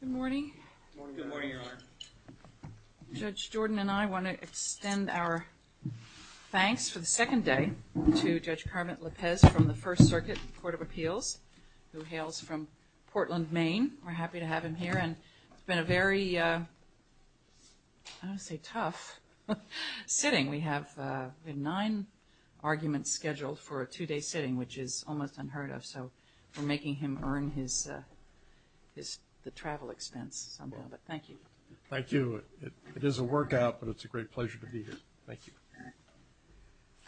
Good morning. Judge Jordan and I want to extend our thanks for the second day to Judge Kermit Lopez from the First Circuit Court of Appeals who hails from Portland, Maine. We're happy to have him here and it's been a very, I don't want to say tough, sitting. We have nine arguments scheduled for a two-day sitting which is to help him earn his travel expense somehow, but thank you. Thank you. It is a workout, but it's a great pleasure to be here. Thank you.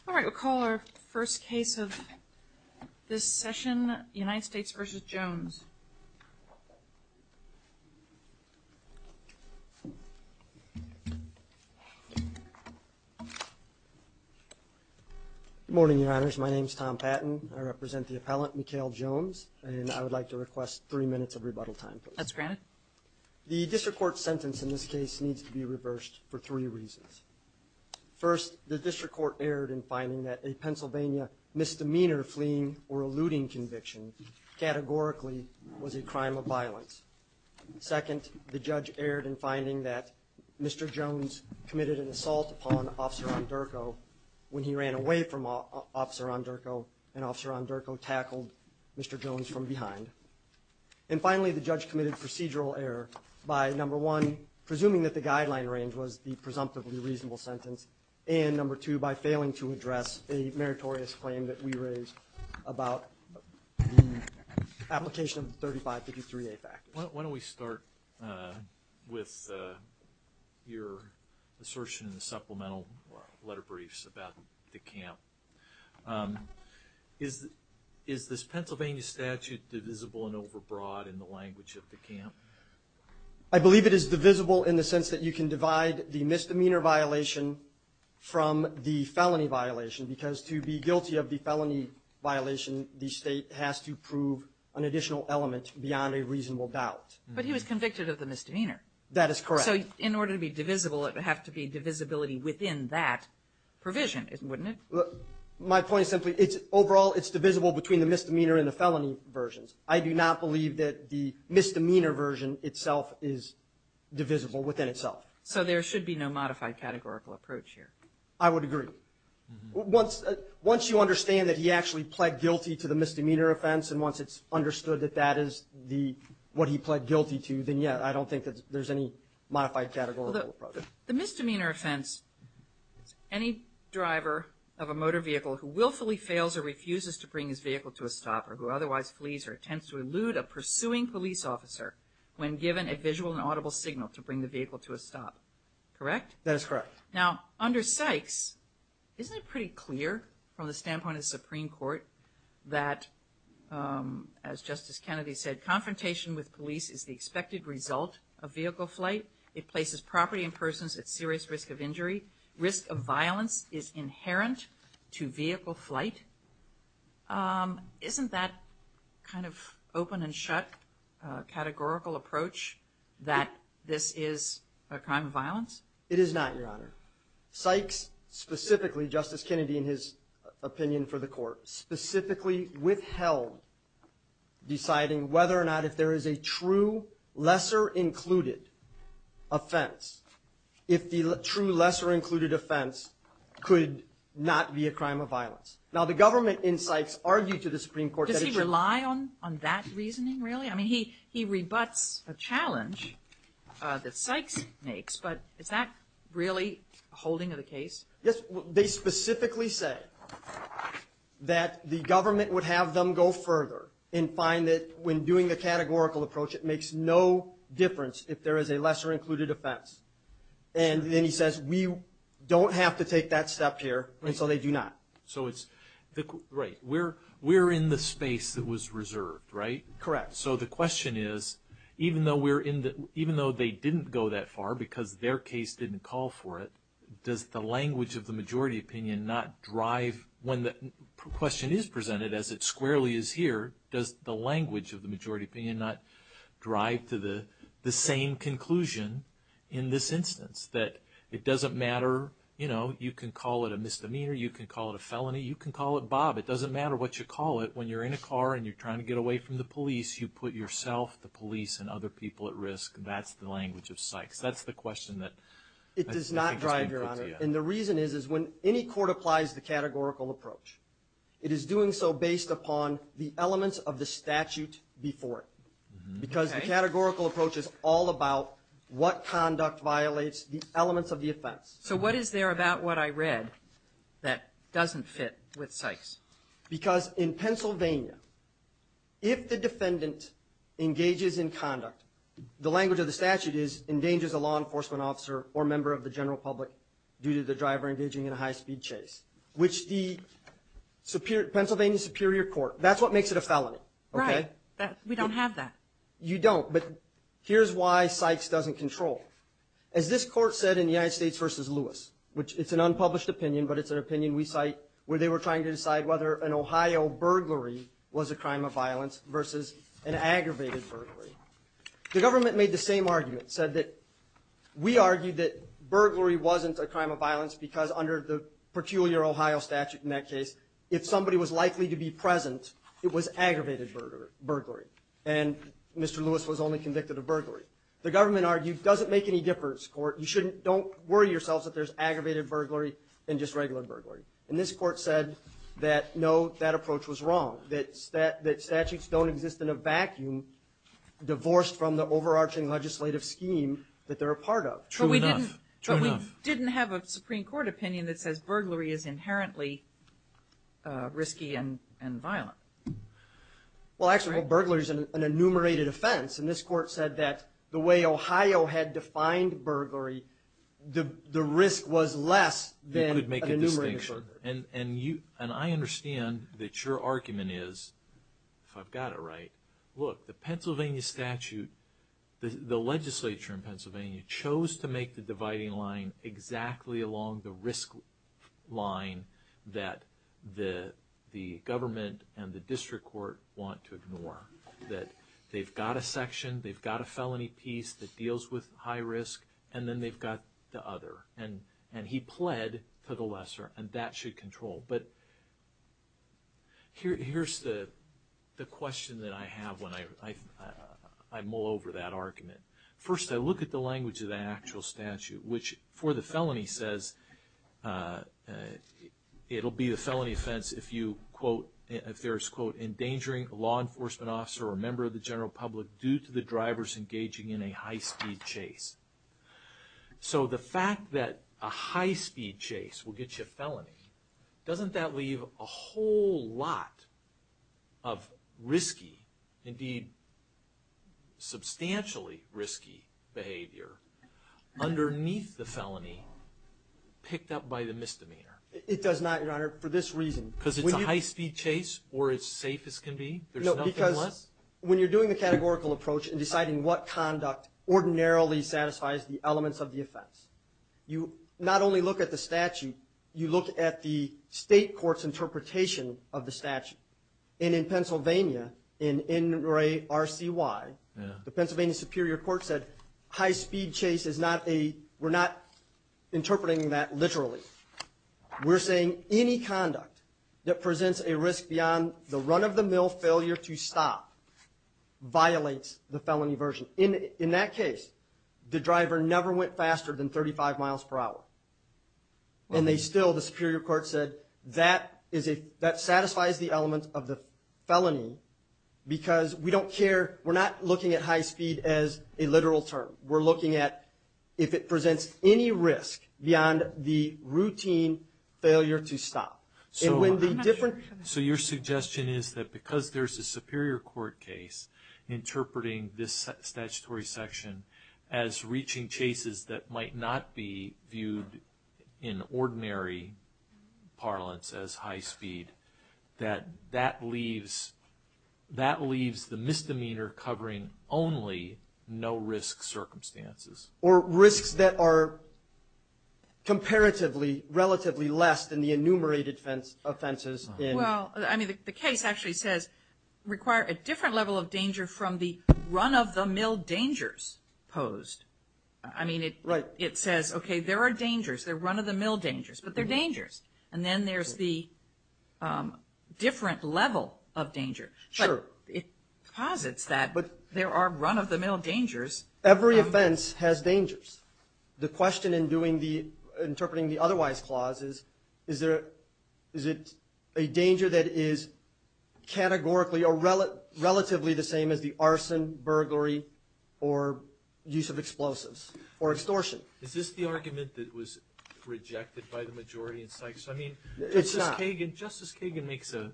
All right, we'll call our first case of this session, United States v. Jones. Good morning, Your Honors. My name is Tom Patton. I represent the appellant, Mekail Jones, and I would like to request three minutes of rebuttal time, please. That's granted. The district court sentence in this case needs to be reversed for three reasons. First, the district court erred in finding that a Pennsylvania misdemeanor fleeing or eluding conviction categorically was a crime of violence. Second, the judge erred in finding that Mr. Jones committed an assault upon Officer Ondurko when he ran away from Officer Ondurko and Officer Ondurko tackled Mr. Jones from behind. And finally, the judge committed procedural error by, number one, presuming that the guideline range was the presumptively reasonable sentence, and, number two, by failing to address a meritorious claim that we raised about the application of the 3553A fact. Why don't we start with your assertion in the supplemental letter briefs about the camp. Is this Pennsylvania statute divisible and overbroad in the language of the camp? I believe it is divisible in the sense that you can divide the misdemeanor violation from the felony violation, because to be guilty of the felony violation, the State has to prove an additional element beyond a reasonable doubt. But he was convicted of the misdemeanor. That is correct. So in order to be divisible, it would have to be divisibility within that provision, wouldn't it? My point is simply, overall, it's divisible between the misdemeanor and the felony versions. I do not believe that the misdemeanor version itself is divisible within itself. So there should be no modified categorical approach here. I would agree. Once you understand that he actually pled guilty to the misdemeanor offense and once it's understood that that is what he pled guilty to, then, yeah, I don't think that there's any modified categorical approach. The misdemeanor offense is any driver of a motor vehicle who willfully fails or refuses to bring his vehicle to a stop or who otherwise flees or attempts to elude a pursuing police officer when given a visual and audible signal to bring the vehicle to a stop. Correct? That is correct. Now, under Sykes, isn't it pretty clear from the standpoint of the Supreme Court that, as Justice Kennedy said, confrontation with police is the expected result of vehicle flight? It places property and persons at serious risk of injury. Risk of violence is inherent to vehicle flight. Isn't that kind of open and shut categorical approach that this is a crime of violence? It is not, Your Honor. Sykes specifically, Justice Kennedy in his opinion for the court, specifically withheld deciding whether or not if there is a true lesser included offense, if the true lesser included offense could not be a crime of violence. Now, the government in Sykes argued to the Supreme Court that it should. Does he rely on that reasoning, really? I mean, he rebuts a challenge that Sykes makes, but is that really a holding of the case? Yes. They specifically said that the government would have them go further and find that when doing the categorical approach, it makes no difference if there is a lesser included offense. And then he says, we don't have to take that step here, and so they do not. Right. We're in the space that was reserved, right? Correct. So the question is, even though they didn't go that far because their case didn't call for it, does the language of the majority opinion not drive, when the question is presented as it squarely is here, does the language of the majority opinion not drive to the same conclusion in this instance, that it doesn't matter, you know, you can call it a misdemeanor, you can call it a felony, you can call it Bob, it doesn't matter what you call it when you're in a car and you're trying to get away from the police, you put yourself, the police, and other people at risk. That's the language of Sykes. That's the question that I think has been put to you. It does not drive, Your Honor. And the reason is, is when any court applies the categorical approach, it is doing so based upon the elements of the statute before it. Because the categorical approach is all about what conduct violates the elements of the offense. So what is there about what I read that doesn't fit with Sykes? Because in Pennsylvania, if the defendant engages in conduct, the language of the statute is, endangers a law enforcement officer or member of the general public due to the driver engaging in a high-speed chase, which the Pennsylvania Superior Court, that's what makes it a felony. Right. We don't have that. You don't, but here's why Sykes doesn't control. As this court said in the United States v. Lewis, which it's an unpublished opinion, but it's an opinion we cite, where they were trying to decide whether an Ohio burglary was a crime of violence versus an aggravated burglary. The government made the same argument, said that we argued that burglary wasn't a crime of violence, because under the peculiar Ohio statute in that case, if somebody was likely to be present, it was aggravated burglary. And Mr. Lewis was only convicted of burglary. The government argued, doesn't make any difference, court. You shouldn't, don't worry yourselves that there's aggravated burglary and just regular burglary. And this court said that, no, that approach was wrong, that statutes don't exist in a vacuum divorced from the overarching legislative scheme that they're a part of. True enough. True enough. But we didn't have a Supreme Court opinion that says burglary is inherently risky and violent. Well, actually, burglary is an enumerated offense. And this court said that the way Ohio had defined burglary, the risk was less than an enumerated burglary. You could make a distinction. And I understand that your argument is, if I've got it right, look, the Pennsylvania statute, the legislature in Pennsylvania chose to make the dividing line exactly along the risk line that the government and the district court want to ignore. That they've got a section, they've got a felony piece that deals with high risk, and then they've got the other. And he pled for the lesser, and that should control. But here's the question that I have when I mull over that argument. First, I look at the language of the actual statute, which for the felony says it'll be a felony offense if there's, quote, an endangering law enforcement officer or member of the general public due to the drivers engaging in a high-speed chase. So the fact that a high-speed chase will get you a felony, doesn't that leave a whole lot of risky, indeed, substantially risky behavior underneath the felony picked up by the misdemeanor? It does not, Your Honor, for this reason. Because it's a high-speed chase, or as safe as can be? There's nothing less? No, because when you're doing the categorical approach and deciding what conduct ordinarily satisfies the elements of the offense, you not only look at the statute, you look at the state court's interpretation of the statute. And in Pennsylvania, in NRA RCY, the Pennsylvania Superior Court said, high-speed chase is not a, we're not interpreting that literally. We're saying any conduct that presents a risk beyond the run-of-the-mill failure to stop violates the felony version. In that case, the driver never went faster than 35 miles per hour. And they still, the Superior Court said, that satisfies the element of the felony because we don't care, we're not looking at high-speed as a literal term. We're looking at if it presents any risk beyond the routine failure to stop. So your suggestion is that because there's a Superior Court case interpreting this statutory section as reaching chases that might not be viewed in ordinary parlance as high-speed, that that leaves, that leaves the misdemeanor covering only no-risk circumstances. Or risks that are comparatively, relatively less than the enumerated offenses. Well, I mean, the case actually says, require a different level of danger from the run-of-the-mill dangers posed. Right. It says, okay, there are dangers, there are run-of-the-mill dangers, but they're dangers. And then there's the different level of danger. Sure. It posits that, but there are run-of-the-mill dangers. Every offense has dangers. The question in doing the, interpreting the otherwise clause is, is it a danger that is categorically or relatively the same as the arson, burglary, or use of explosives, or extortion? Is this the argument that was rejected by the majority in Sykes? I mean, Justice Kagan makes a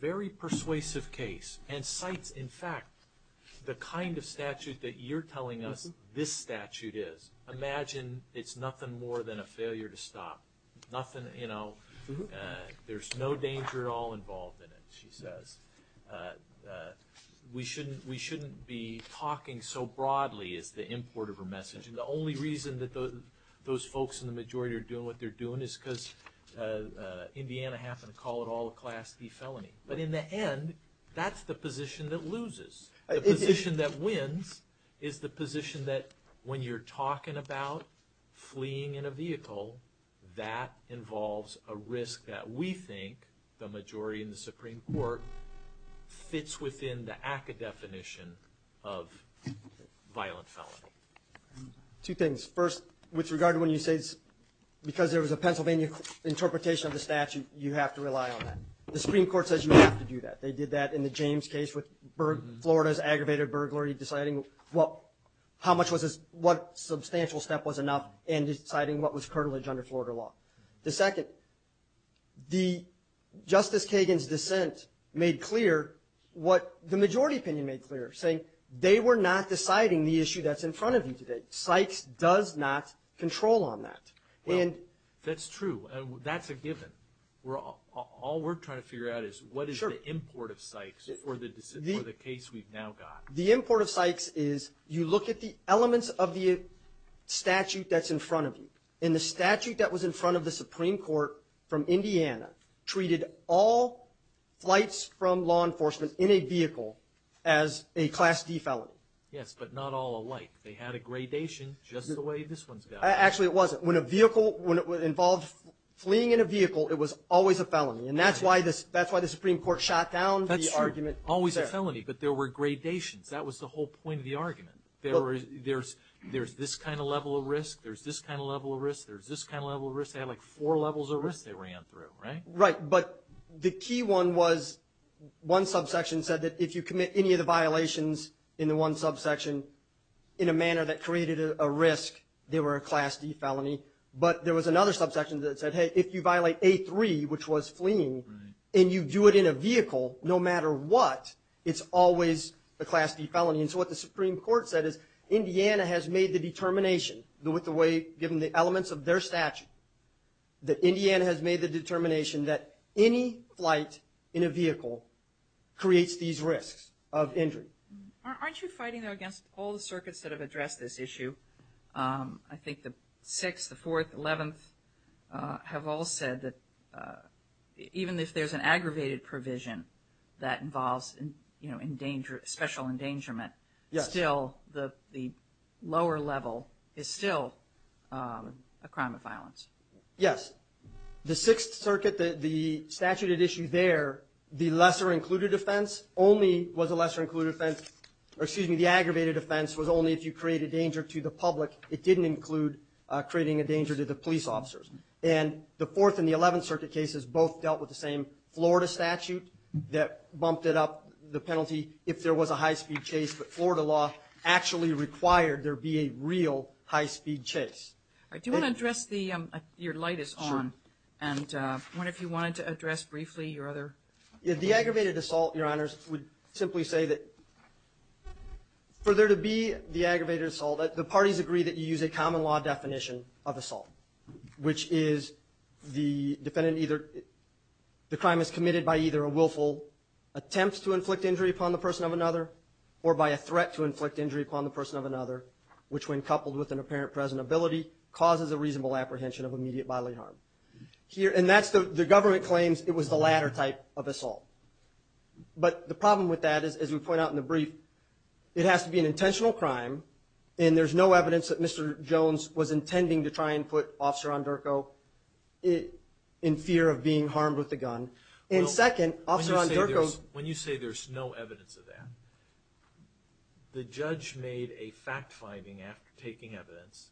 very persuasive case and cites, in fact, the kind of statute that you're telling us this statute is. Imagine it's nothing more than a failure to stop. Nothing, you know, there's no danger at all involved in it, she says. We shouldn't be talking so broadly as the import of her message. And the only reason that those folks in the majority are doing what they're doing is because Indiana happened to call it all a Class D felony. But in the end, that's the position that loses. The position that wins is the position that when you're talking about fleeing in a vehicle, that involves a risk that we think, the majority in the Supreme Court, fits within the ACCA definition of violent felony. Two things. First, with regard to when you say, because there was a Pennsylvania interpretation of the statute, you have to rely on that. The Supreme Court says you have to do that. They did that in the James case with Florida's aggravated burglary, deciding what substantial step was enough and deciding what was curtilage under Florida law. The second, Justice Kagan's dissent made clear what the majority opinion made clear, saying they were not deciding the issue that's in front of you today. Sykes does not control on that. Well, that's true. That's a given. All we're trying to figure out is what is the import of Sykes for the case we've now got. The import of Sykes is you look at the elements of the statute that's in front of you. And the statute that was in front of the Supreme Court from Indiana treated all flights from law enforcement in a vehicle as a Class D felony. Yes, but not all alike. They had a gradation just the way this one's got. Actually, it wasn't. When a vehicle, when it involved fleeing in a vehicle, it was always a felony. And that's why the Supreme Court shot down the argument there. It was a felony, but there were gradations. That was the whole point of the argument. There's this kind of level of risk. There's this kind of level of risk. There's this kind of level of risk. They had, like, four levels of risk they ran through, right? Right, but the key one was one subsection said that if you commit any of the violations in the one subsection in a manner that created a risk, they were a Class D felony. But there was another subsection that said, hey, if you violate A3, which was fleeing, and you do it in a vehicle, no matter what, it's always a Class D felony. And so what the Supreme Court said is Indiana has made the determination with the way, given the elements of their statute, that Indiana has made the determination that any flight in a vehicle creates these risks of injury. Aren't you fighting, though, against all the circuits that have addressed this issue? I think the Sixth, the Fourth, Eleventh have all said that even if there's an aggravated provision that involves, you know, special endangerment, still the lower level is still a crime of violence. Yes. The Sixth Circuit, the statute at issue there, the lesser included offense only was a lesser included offense. Excuse me. The aggravated offense was only if you create a danger to the public. It didn't include creating a danger to the police officers. And the Fourth and the Eleventh Circuit cases both dealt with the same Florida statute that bumped it up the penalty if there was a high-speed chase. But Florida law actually required there be a real high-speed chase. Do you want to address the – your light is on. Sure. And I wonder if you wanted to address briefly your other – The aggravated assault, Your Honors, would simply say that for there to be the aggravated assault, the parties agree that you use a common law definition of assault, which is the defendant either – the crime is committed by either a willful attempt to inflict injury upon the person of another or by a threat to inflict injury upon the person of another, which when coupled with an apparent presentability causes a reasonable apprehension of immediate bodily harm. And that's the – the government claims it was the latter type of assault. But the problem with that is, as we point out in the brief, it has to be an intentional crime, and there's no evidence that Mr. Jones was intending to try and put Officer Rondurco in fear of being harmed with the gun. And second, Officer Rondurco – When you say there's no evidence of that, the judge made a fact-finding after taking evidence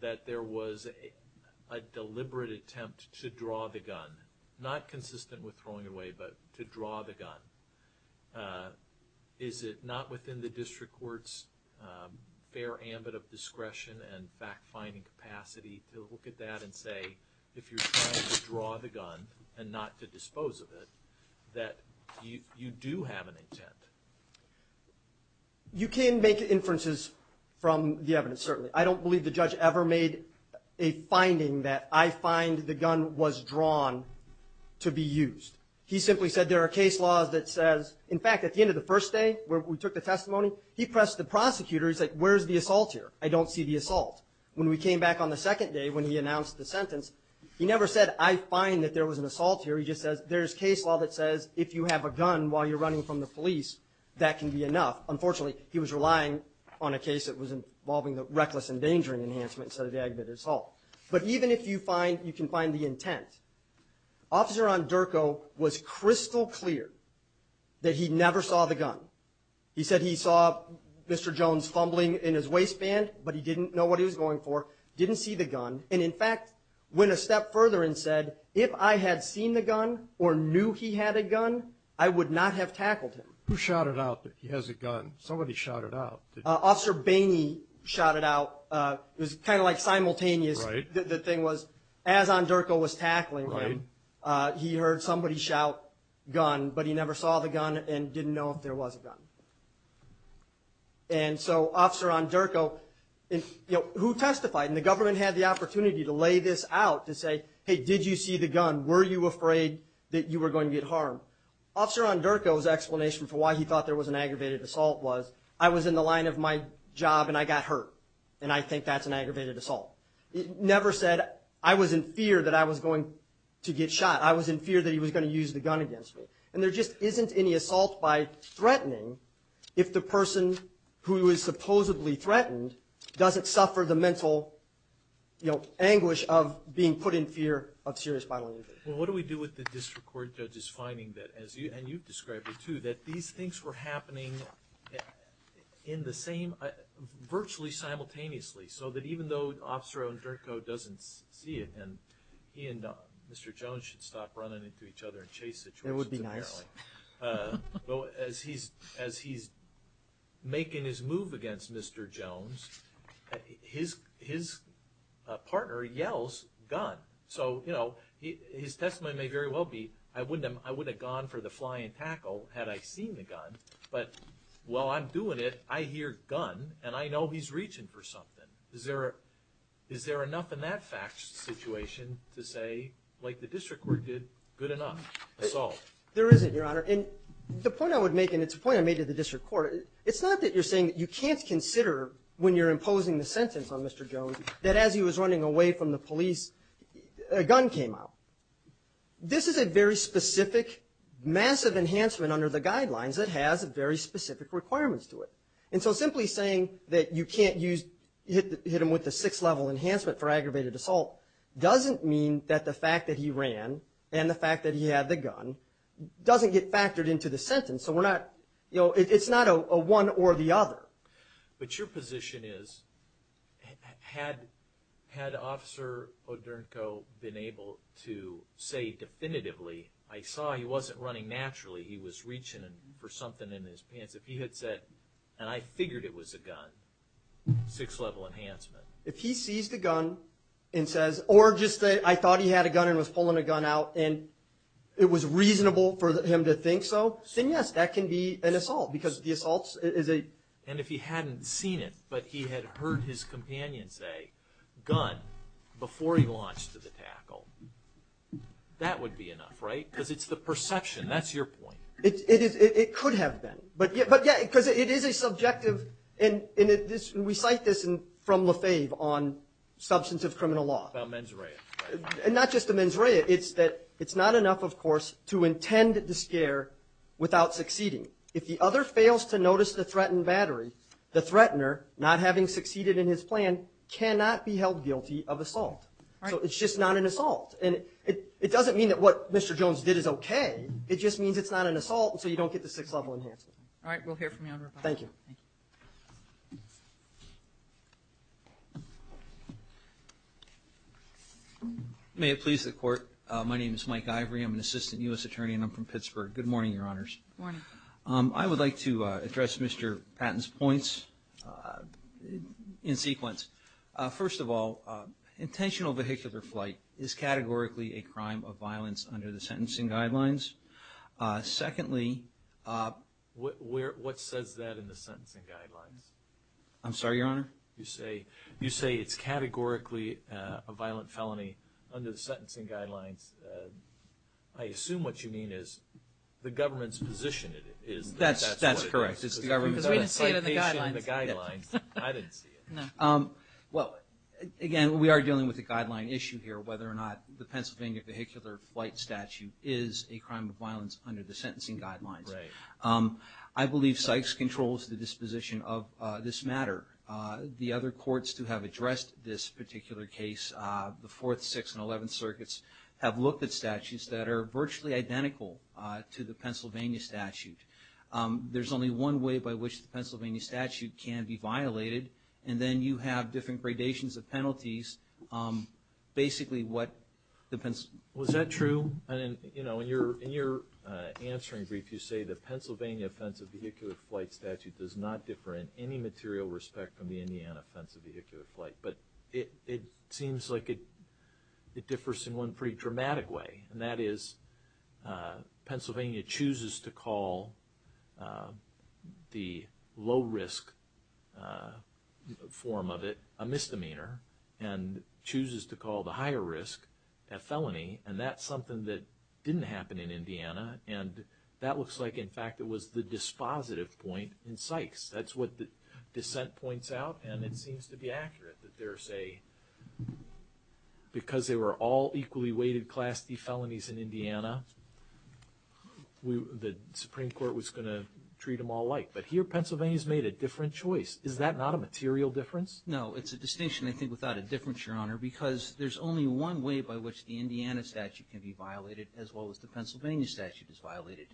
that there was a deliberate attempt to draw the gun. Not consistent with throwing away, but to draw the gun. Is it not within the district court's fair ambit of discretion and fact-finding capacity to look at that and say, if you're trying to draw the gun and not to dispose of it, that you do have an intent? You can make inferences from the evidence, certainly. I don't believe the judge ever made a finding that I find the gun was drawn to be used. He simply said there are case laws that says – in fact, at the end of the first day, where we took the testimony, he pressed the prosecutor. He's like, where's the assault here? I don't see the assault. When we came back on the second day, when he announced the sentence, he never said, I find that there was an assault here. He just says, there's case law that says if you have a gun while you're running from the police, that can be enough. Unfortunately, he was relying on a case that was involving the reckless endangering enhancement instead of the aggravated assault. But even if you can find the intent, Officer Andurco was crystal clear that he never saw the gun. He said he saw Mr. Jones fumbling in his waistband, but he didn't know what he was going for, didn't see the gun, and, in fact, went a step further and said, if I had seen the gun or knew he had a gun, I would not have tackled him. Who shouted out that he has a gun? Somebody shouted out. Officer Baney shouted out. It was kind of like simultaneous. The thing was, as Andurco was tackling him, he heard somebody shout gun, but he never saw the gun and didn't know if there was a gun. And so Officer Andurco, who testified? And the government had the opportunity to lay this out to say, hey, did you see the gun? Were you afraid that you were going to get harmed? Officer Andurco's explanation for why he thought there was an aggravated assault was, I was in the line of my job and I got hurt, and I think that's an aggravated assault. He never said, I was in fear that I was going to get shot. I was in fear that he was going to use the gun against me. And there just isn't any assault by threatening if the person who is supposedly threatened doesn't suffer the mental, you know, anguish of being put in fear of serious bodily injury. Well, what do we do with the district court judge's finding that, and you've described it too, that these things were happening in the same – virtually simultaneously, so that even though Officer Andurco doesn't see it and he and Mr. Jones should stop running into each other in chase situations. It would be nice. As he's making his move against Mr. Jones, his partner yells gun. So, you know, his testimony may very well be, I wouldn't have gone for the fly and tackle had I seen the gun. But while I'm doing it, I hear gun, and I know he's reaching for something. Is there enough in that fact situation to say, like the district court did, good enough. Assault. There isn't, Your Honor. And the point I would make, and it's a point I made to the district court, it's not that you're saying that you can't consider when you're imposing the sentence on Mr. Jones that as he was running away from the police, a gun came out. This is a very specific, massive enhancement under the guidelines that has very specific requirements to it. And so simply saying that you can't use – hit him with a six-level enhancement for aggravated assault doesn't mean that the fact that he ran and the fact that he had the gun doesn't get factored into the sentence. So we're not – you know, it's not a one or the other. But your position is, had Officer Odernko been able to say definitively, I saw he wasn't running naturally, he was reaching for something in his pants. If he had said, and I figured it was a gun, six-level enhancement. If he sees the gun and says – or just say, I thought he had a gun and was pulling a gun out and it was reasonable for him to think so, then yes, that can be an assault because the assault is a – and if he hadn't seen it but he had heard his companion say, gun, before he launched the tackle, that would be enough, right? Because it's the perception. That's your point. It could have been. But yeah, because it is a subjective – and we cite this from Lefebvre on substance of criminal law. About mens rea. And not just the mens rea. It's that it's not enough, of course, to intend the scare without succeeding. If the other fails to notice the threatened battery, the threatener, not having succeeded in his plan, cannot be held guilty of assault. So it's just not an assault. And it doesn't mean that what Mr. Jones did is okay. It just means it's not an assault and so you don't get the six-level enhancement. All right. We'll hear from you on revival. Thank you. May it please the Court. My name is Mike Ivory. I'm an assistant U.S. attorney and I'm from Pittsburgh. Good morning, Your Honors. Good morning. I would like to address Mr. Patton's points in sequence. First of all, intentional vehicular flight is categorically a crime of violence under the sentencing guidelines. Secondly – What says that in the sentencing guidelines? I'm sorry, Your Honor? You say it's categorically a violent felony under the sentencing guidelines. I assume what you mean is the government's position is that that's what it is. That's correct. It's the government's participation in the guidelines. Because we didn't see it in the guidelines. I didn't see it. No. Well, again, we are dealing with a guideline issue here, whether or not the Pennsylvania vehicular flight statute is a crime of violence under the sentencing guidelines. Right. I believe Sykes controls the disposition of this matter. The other courts who have addressed this particular case, the Fourth, Sixth, and Eleventh Circuits, have looked at statutes that are virtually identical to the Pennsylvania statute. There's only one way by which the Pennsylvania statute can be violated, and then you have different gradations of penalties. Basically, what the – Was that true? In your answering brief, you say, the Pennsylvania Offensive Vehicular Flight Statute does not differ in any material respect from the Indiana Offensive Vehicular Flight. But it seems like it differs in one pretty dramatic way, and that is Pennsylvania chooses to call the low-risk form of it a misdemeanor and chooses to call the higher risk a felony, and that's something that didn't happen in Indiana. And that looks like, in fact, it was the dispositive point in Sykes. That's what the dissent points out, and it seems to be accurate that there's a – because they were all equally weighted Class D felonies in Indiana, the Supreme Court was going to treat them all alike. But here, Pennsylvania's made a different choice. Is that not a material difference? No, it's a distinction, I think, without a difference, Your Honor, because there's only one way by which the Indiana statute can be violated, as well as the Pennsylvania statute is violated.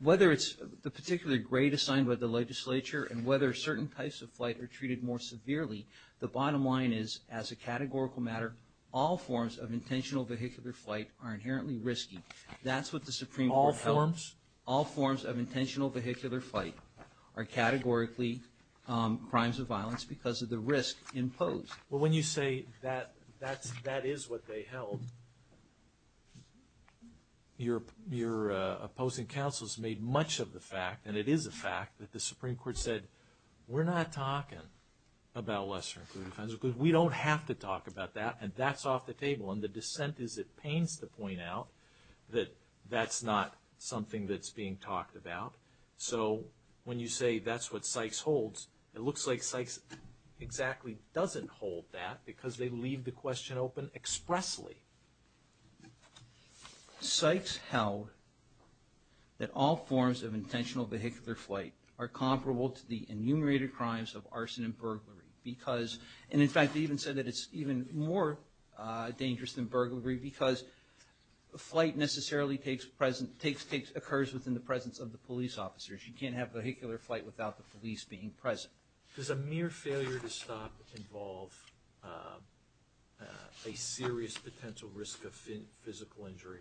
Whether it's the particular grade assigned by the legislature and whether certain types of flight are treated more severely, the bottom line is, as a categorical matter, all forms of intentional vehicular flight are inherently risky. That's what the Supreme Court held. All forms? All forms of intentional vehicular flight are categorically crimes of violence because of the risk imposed. Well, when you say that that is what they held, your opposing counsels made much of the fact, and it is a fact, that the Supreme Court said, we're not talking about lesser-included fines. We don't have to talk about that, and that's off the table. And the dissent is it pains to point out that that's not something that's being talked about. So when you say that's what Sykes holds, it looks like Sykes exactly doesn't hold that because they leave the question open expressly. Sykes held that all forms of intentional vehicular flight are comparable to the enumerated crimes of arson and burglary because, and in fact they even said that it's even more dangerous than burglary because flight necessarily occurs within the presence of the police officers. You can't have vehicular flight without the police being present. Does a mere failure to stop involve a serious potential risk of physical injury?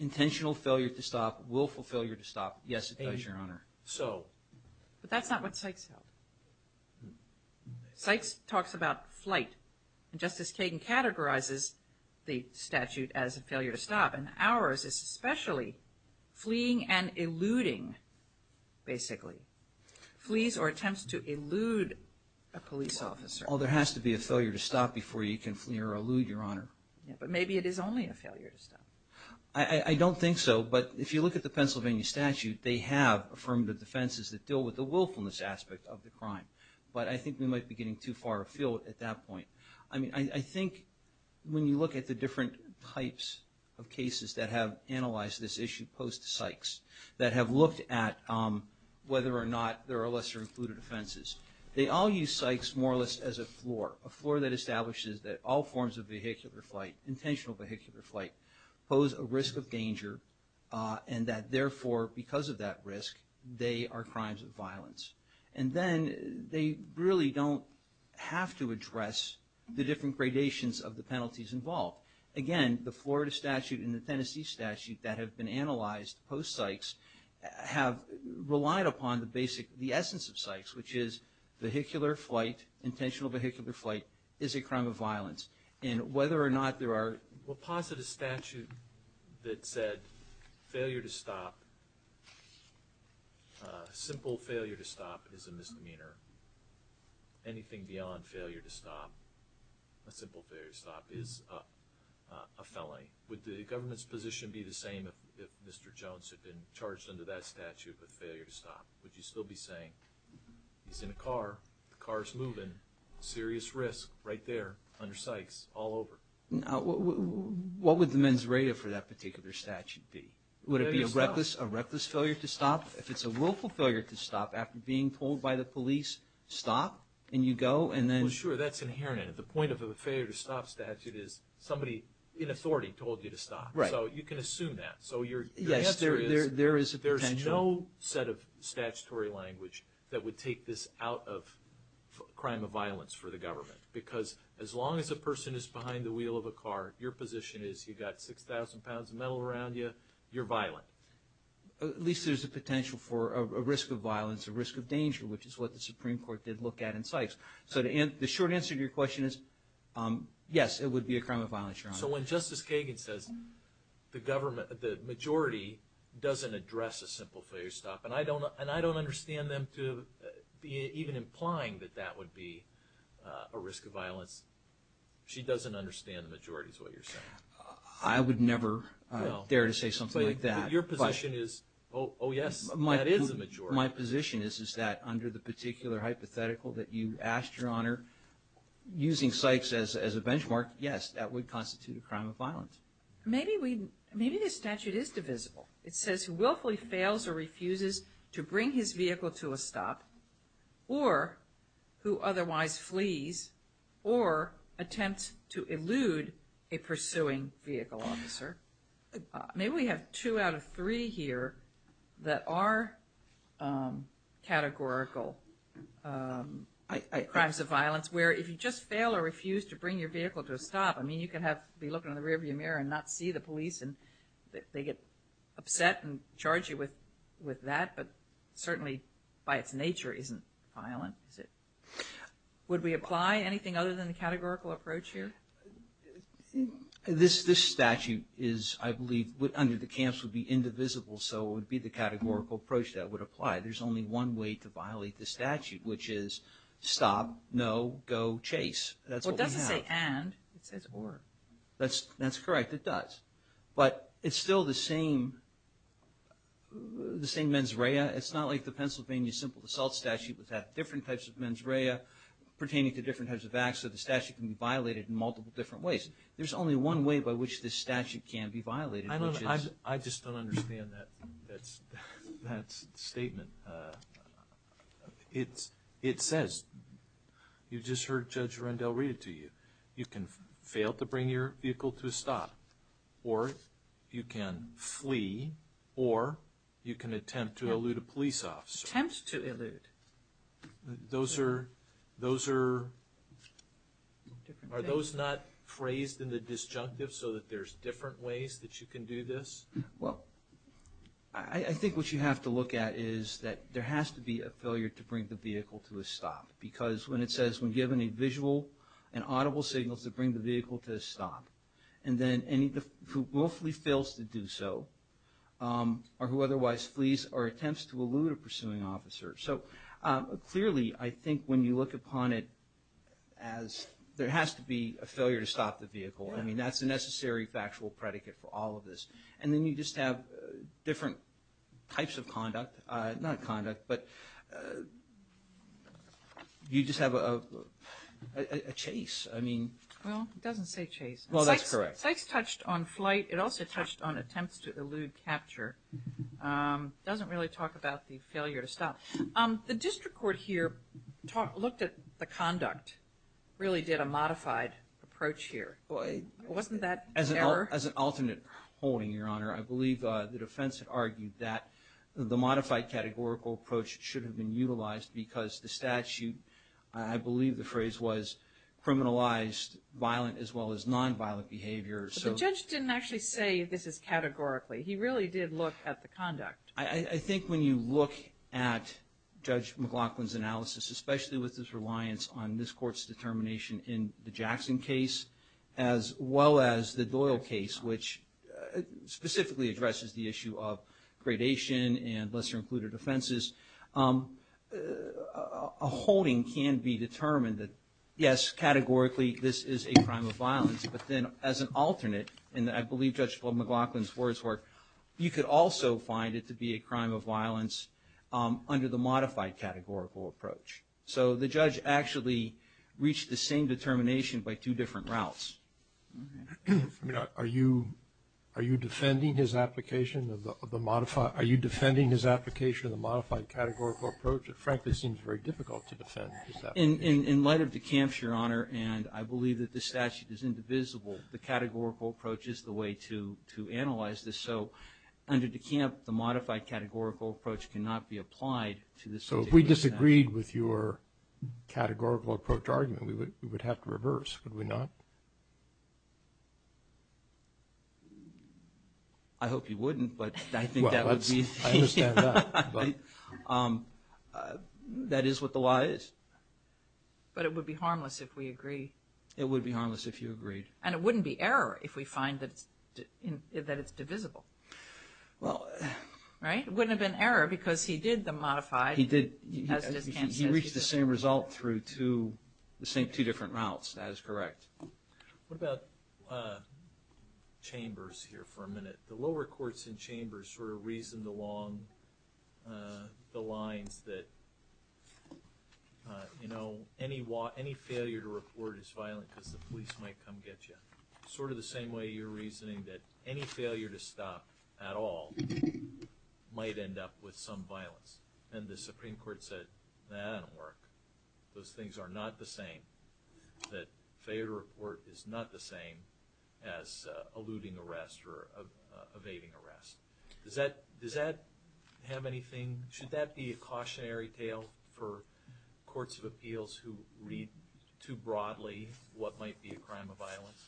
Intentional failure to stop will fulfill your stop. Yes, it does, Your Honor. So. But that's not what Sykes held. Sykes talks about flight, and Justice Kagan categorizes the statute as a failure to stop, and ours is especially fleeing and eluding, basically. Flees or attempts to elude a police officer. Well, there has to be a failure to stop before you can flee or elude, Your Honor. But maybe it is only a failure to stop. I don't think so, but if you look at the Pennsylvania statute, they have affirmative defenses that deal with the willfulness aspect of the crime. But I think we might be getting too far afield at that point. I mean, I think when you look at the different types of cases that have analyzed this issue post-Sykes, that have looked at whether or not there are lesser-included offenses, they all use Sykes more or less as a floor, a floor that establishes that all forms of vehicular flight, intentional vehicular flight, pose a risk of danger, and that therefore, because of that risk, they are crimes of violence. And then they really don't have to address the different gradations of the penalties involved. Again, the Florida statute and the Tennessee statute that have been analyzed post-Sykes have relied upon the basic, the essence of Sykes, which is vehicular flight, intentional vehicular flight is a crime of violence. And whether or not there are... If you deposit a statute that said failure to stop, simple failure to stop is a misdemeanor, anything beyond failure to stop, a simple failure to stop is a felony, would the government's position be the same if Mr. Jones had been charged under that statute with failure to stop? Would you still be saying he's in a car, the car's moving, serious risk right there under Sykes, all over? What would the mens reta for that particular statute be? Would it be a reckless failure to stop? If it's a willful failure to stop after being told by the police, stop, and you go, and then... Well, sure, that's inherent. The point of a failure to stop statute is somebody in authority told you to stop. Right. So you can assume that. So your answer is... Yes, there is a potential. There's no set of statutory language that would take this out of crime of violence for the government. Because as long as a person is behind the wheel of a car, your position is you've got 6,000 pounds of metal around you, you're violent. At least there's a potential for a risk of violence, a risk of danger, which is what the Supreme Court did look at in Sykes. So the short answer to your question is yes, it would be a crime of violence, Your Honor. So when Justice Kagan says the majority doesn't address a simple failure to stop, and I don't understand them even implying that that would be a risk of violence, she doesn't understand the majority is what you're saying. I would never dare to say something like that. Your position is, oh, yes, that is a majority. My position is that under the particular hypothetical that you asked, Your Honor, using Sykes as a benchmark, yes, that would constitute a crime of violence. Maybe the statute is divisible. It says who willfully fails or refuses to bring his vehicle to a stop, or who otherwise flees or attempts to elude a pursuing vehicle officer. Maybe we have two out of three here that are categorical crimes of violence, where if you just fail or refuse to bring your vehicle to a stop, I mean, you can be looking in the rearview mirror and not see the police and they get upset and charge you with that, but certainly by its nature isn't violent. Would we apply anything other than the categorical approach here? This statute is, I believe, under the camps would be indivisible, so it would be the categorical approach that would apply. There's only one way to violate the statute, which is stop, no, go, chase. Well, it doesn't say and. It says or. That's correct, it does. But it's still the same mens rea. It's not like the Pennsylvania simple assault statute which had different types of mens rea pertaining to different types of acts, so the statute can be violated in multiple different ways. There's only one way by which this statute can be violated. I just don't understand that statement. It says, you just heard Judge Rendell read it to you. You can fail to bring your vehicle to a stop, or you can flee, or you can attempt to elude a police officer. Attempt to elude. Those are, are those not phrased in the disjunctive so that there's different ways that you can do this? Well, I think what you have to look at is that there has to be a failure to bring the vehicle to a stop because when it says, when given a visual and audible signal to bring the vehicle to a stop, and then who willfully fails to do so, or who otherwise flees or attempts to elude a pursuing officer. So clearly I think when you look upon it as there has to be a failure to stop the vehicle. I mean, that's a necessary factual predicate for all of this. And then you just have different types of conduct, not conduct, but you just have a chase. I mean. Well, it doesn't say chase. Well, that's correct. Cites touched on flight. It also touched on attempts to elude capture. It doesn't really talk about the failure to stop. The district court here looked at the conduct, really did a modified approach here. Wasn't that error? As an alternate holding, Your Honor, I believe the defense had argued that the modified categorical approach should have been utilized because the statute, I believe the phrase was criminalized violent as well as nonviolent behavior. But the judge didn't actually say this is categorically. He really did look at the conduct. I think when you look at Judge McLaughlin's analysis, as well as the Doyle case, which specifically addresses the issue of gradation and lesser included offenses, a holding can be determined that, yes, categorically, this is a crime of violence. But then as an alternate, and I believe Judge McLaughlin's words work, you could also find it to be a crime of violence under the modified categorical approach. So the judge actually reached the same determination by two different routes. Are you defending his application of the modified, are you defending his application of the modified categorical approach? It frankly seems very difficult to defend. In light of DeKalb's, Your Honor, and I believe that the statute is indivisible, the categorical approach is the way to analyze this. So under DeKalb, the modified categorical approach cannot be applied to this. So if we disagreed with your categorical approach argument, we would have to reverse, would we not? I hope you wouldn't, but I think that would be. I understand that. That is what the law is. But it would be harmless if we agree. It would be harmless if you agreed. And it wouldn't be error if we find that it's divisible. Well. Right? It wouldn't have been error because he did the modified. He did. He reached the same result through the same two different routes. That is correct. What about chambers here for a minute? The lower courts and chambers sort of reasoned along the lines that, you know, any failure to report is violent because the police might come get you. Sort of the same way you're reasoning that any failure to stop at all might end up with some violence. And the Supreme Court said, that doesn't work. Those things are not the same. That failure to report is not the same as eluding arrest or evading arrest. Does that have anything? Should that be a cautionary tale for courts of appeals who read too broadly what might be a crime of violence?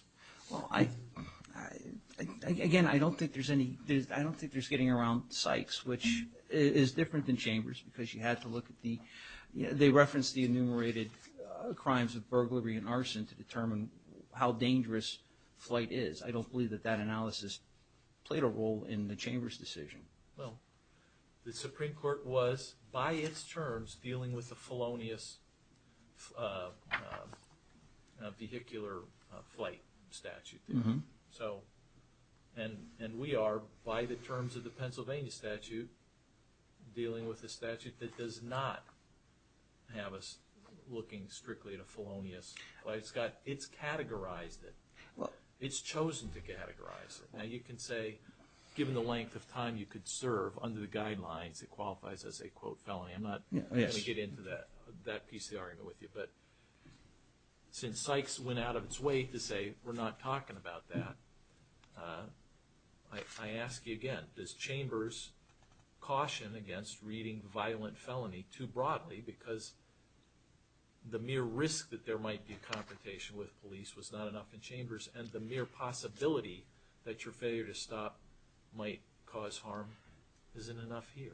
Well, I, again, I don't think there's any, I don't think there's getting around Sykes, which is different than chambers because you have to look at the, they reference the enumerated crimes of burglary and arson to determine how dangerous flight is. I don't believe that that analysis played a role in the chamber's decision. Well, the Supreme Court was, by its terms, dealing with the felonious vehicular flight statute. So, and we are, by the terms of the Pennsylvania statute, dealing with a statute that does not have us looking strictly at a felonious. It's categorized it. It's chosen to categorize it. Now you can say, given the length of time you could serve under the guidelines, it qualifies as a, quote, felony. I'm not going to get into that piece of the argument with you. But since Sykes went out of its way to say we're not talking about that, I ask you again, does chambers caution against reading violent felony too broadly because the mere risk that there might be a confrontation with police was not enough in chambers and the mere possibility that your failure to stop might cause harm isn't enough here?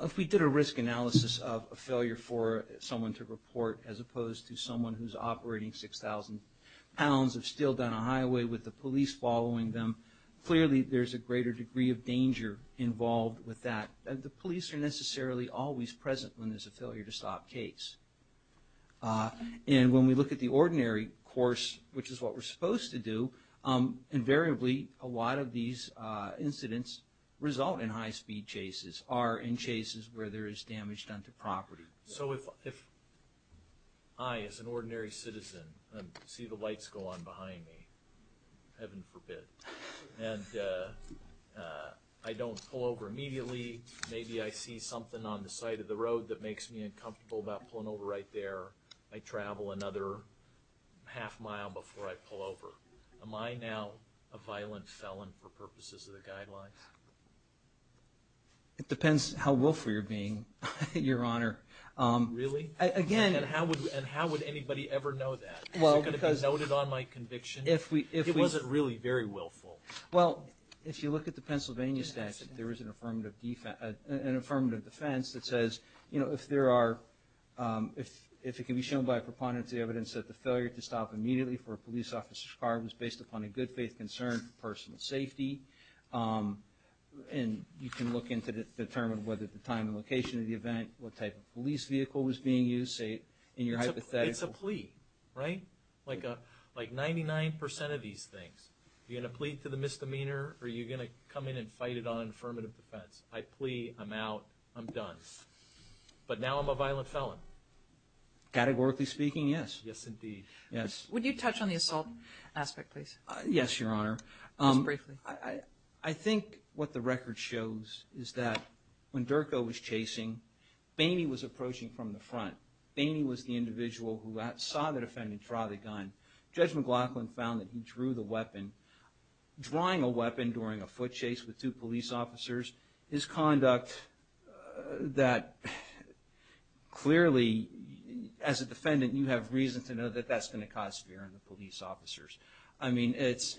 If we did a risk analysis of a failure for someone to report as opposed to someone who's operating 6,000 pounds of steel down a highway with the police following them, clearly there's a greater degree of danger involved with that. The police are necessarily always present when there's a failure to stop case. And when we look at the ordinary course, which is what we're supposed to do, invariably a lot of these incidents result in high-speed chases, are in chases where there is damage done to property. So if I, as an ordinary citizen, see the lights go on behind me, heaven forbid, and I don't pull over immediately, maybe I see something on the side of the road that makes me uncomfortable about pulling over right there, I travel another half mile before I pull over. Am I now a violent felon for purposes of the guidelines? It depends how willful you're being, Your Honor. Really? And how would anybody ever know that? Is it going to be noted on my conviction? It wasn't really very willful. Well, if you look at the Pennsylvania statute, there is an affirmative defense that says if it can be shown by a proponent to the evidence that the failure to stop immediately for a police officer's car was based upon a good-faith concern for personal safety. And you can look in to determine whether the time and location of the event, what type of police vehicle was being used, say, in your hypothetical. It's a plea, right? Like 99% of these things. Are you going to plead to the misdemeanor, or are you going to come in and fight it on affirmative defense? I plea, I'm out, I'm done. But now I'm a violent felon? Categorically speaking, yes. Yes, indeed. Would you touch on the assault aspect, please? Yes, Your Honor. Just briefly. I think what the record shows is that when Durko was chasing, Bainey was approaching from the front. Bainey was the individual who saw the defendant draw the gun. Judge McLaughlin found that he drew the weapon. Drawing a weapon during a foot chase with two police officers is conduct that clearly, as a defendant, you have reason to know that that's going to cause fear in the police officers. I mean, it's...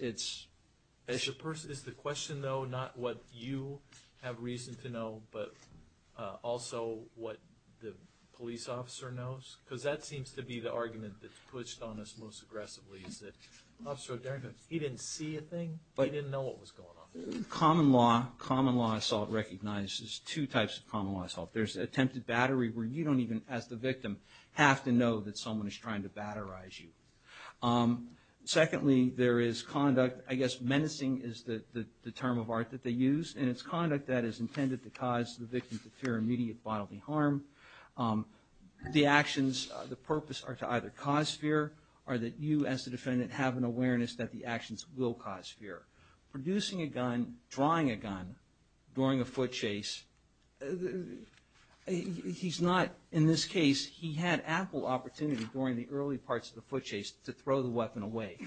Is the question, though, not what you have reason to know, but also what the police officer knows? Because that seems to be the argument that's pushed on us most aggressively, is that he didn't see a thing, he didn't know what was going on. Common law assault recognizes two types of common law assault. There's attempted battery where you don't even, as the victim, have to know that someone is trying to batterize you. Secondly, there is conduct. I guess menacing is the term of art that they use, and it's conduct that is intended to cause the victim to fear immediate bodily harm. The actions, the purpose are to either cause fear or that you, as the defendant, have an awareness that the actions will cause fear. Producing a gun, drawing a gun during a foot chase, he's not... In this case, he had ample opportunity during the early parts of the foot chase to throw the weapon away.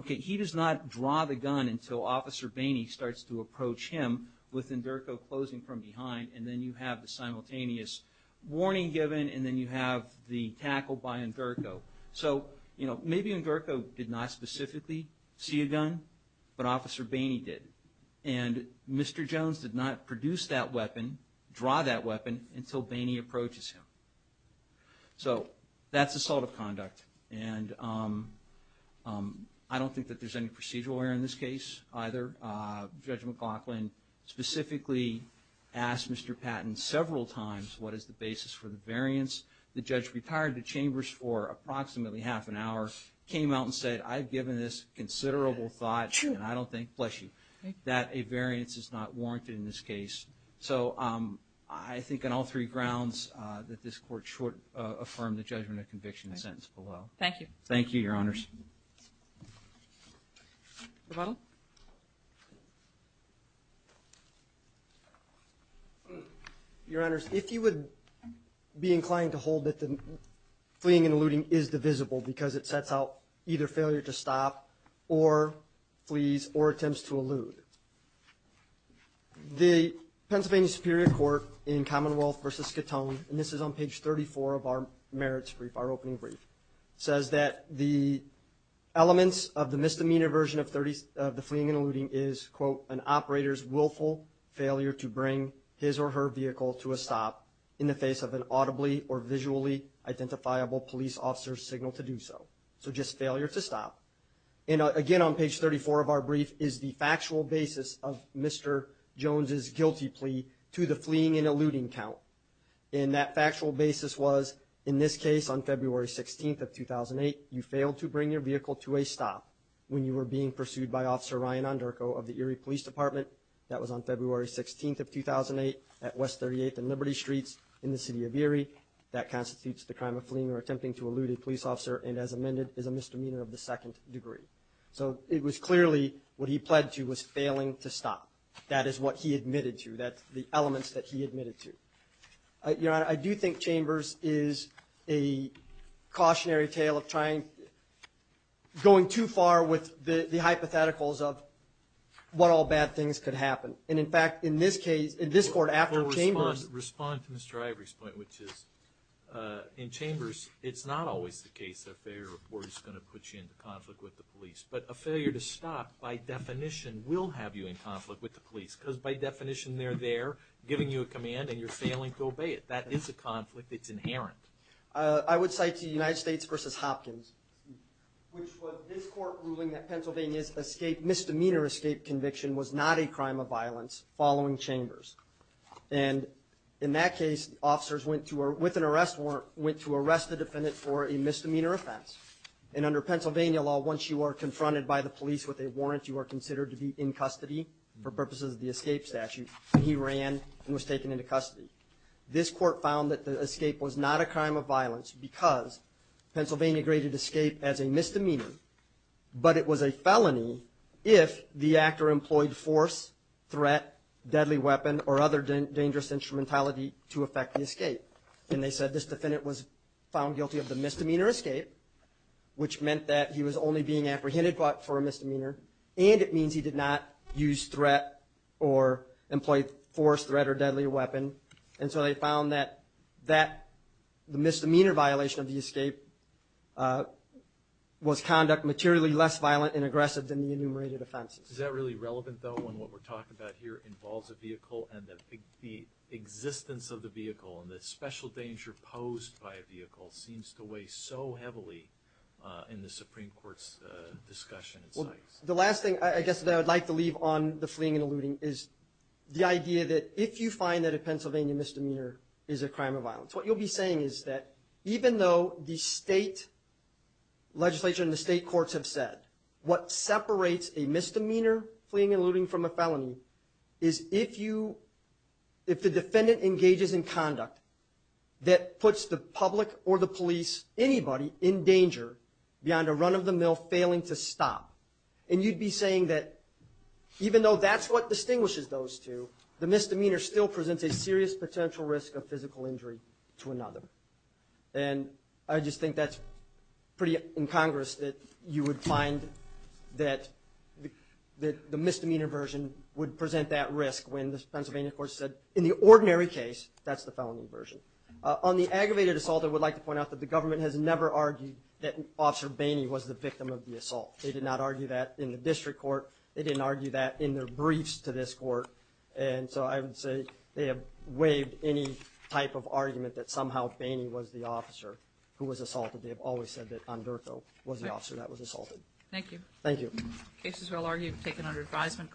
Okay, he does not draw the gun until Officer Bainey starts to approach him with Enderco closing from behind, and then you have the simultaneous warning given, and then you have the tackle by Enderco. So maybe Enderco did not specifically see a gun, but Officer Bainey did, and Mr. Jones did not produce that weapon, draw that weapon, until Bainey approaches him. So that's assault of conduct, and I don't think that there's any procedural error in this case either. Judge McLaughlin specifically asked Mr. Patton several times what is the basis for the variance. The judge retired the chambers for approximately half an hour, came out and said, I've given this considerable thought, and I don't think, bless you, that a variance is not warranted in this case. So I think on all three grounds that this court should affirm the judgment of conviction sentence below. Thank you. Thank you, Your Honors. Rebuttal? Your Honors, if you would be inclined to hold that the fleeing and eluding is divisible because it sets out either failure to stop or flees or attempts to elude. The Pennsylvania Superior Court in Commonwealth v. Katone, and this is on page 34 of our merits brief, our opening brief, says that the elements of the misdemeanor version of the fleeing and eluding is, quote, an operator's willful failure to bring his or her vehicle to a stop in the face of an audibly or visually identifiable police officer's signal to do so. So just failure to stop. And again on page 34 of our brief is the factual basis of Mr. Jones' guilty plea to the fleeing and eluding count. And that factual basis was, in this case, on February 16th of 2008, you failed to bring your vehicle to a stop when you were being pursued by Officer Ryan Onderko of the Erie Police Department. That was on February 16th of 2008 at West 38th and Liberty Streets in the city of Erie. That constitutes the crime of fleeing or attempting to elude a police officer and, as amended, is a misdemeanor of the second degree. So it was clearly what he pled to was failing to stop. That is what he admitted to. That's the elements that he admitted to. Your Honor, I do think Chambers is a cautionary tale of going too far with the hypotheticals of what all bad things could happen. And, in fact, in this case, in this court after Chambers Respond to Mr. Ivory's point, which is in Chambers, it's not always the case that a failure to report is going to put you into conflict with the police. But a failure to stop, by definition, will have you in conflict with the police because, by definition, they're there giving you a command and you're failing to obey it. That is a conflict. It's inherent. I would cite the United States v. Hopkins, which was this court ruling that Pennsylvania's misdemeanor escape conviction was not a crime of violence following Chambers. And, in that case, officers, with an arrest warrant, went to arrest the defendant for a misdemeanor offense. And, under Pennsylvania law, once you are confronted by the police with a warrant, you are considered to be in custody for purposes of the escape statute. He ran and was taken into custody. This court found that the escape was not a crime of violence because Pennsylvania graded escape as a misdemeanor, but it was a felony if the actor employed force, threat, deadly weapon, or other dangerous instrumentality to effect the escape. And they said this defendant was found guilty of the misdemeanor escape, which meant that he was only being apprehended for a misdemeanor, and it means he did not use threat or employ force, threat, or deadly weapon. And so they found that the misdemeanor violation of the escape was conduct materially less violent and aggressive than the enumerated offenses. Is that really relevant, though, when what we're talking about here involves a vehicle and the existence of the vehicle and the special danger posed by a vehicle seems to weigh so heavily in the Supreme Court's discussion? Well, the last thing I guess that I would like to leave on the fleeing and eluding is the idea that if you find that a Pennsylvania misdemeanor is a crime of violence, what you'll be saying is that even though the state legislature and the state courts have said what separates a misdemeanor, fleeing and eluding from a felony, is if the defendant engages in conduct that puts the public or the police, anybody, in danger beyond a run-of-the-mill failing to stop. And you'd be saying that even though that's what distinguishes those two, the misdemeanor still presents a serious potential risk of physical injury to another. And I just think that's pretty incongruous that you would find that the misdemeanor version would present that risk when the Pennsylvania courts said, in the ordinary case, that's the felony version. On the aggravated assault, I would like to point out that the government has never argued that Officer Boehne was the victim of the assault. They did not argue that in the district court. They didn't argue that in their briefs to this court. And so I would say they have waived any type of argument that somehow Boehne was the officer who was assaulted. They have always said that Ondurco was the officer that was assaulted. Thank you. Thank you. Cases well argued have been taken under advisement.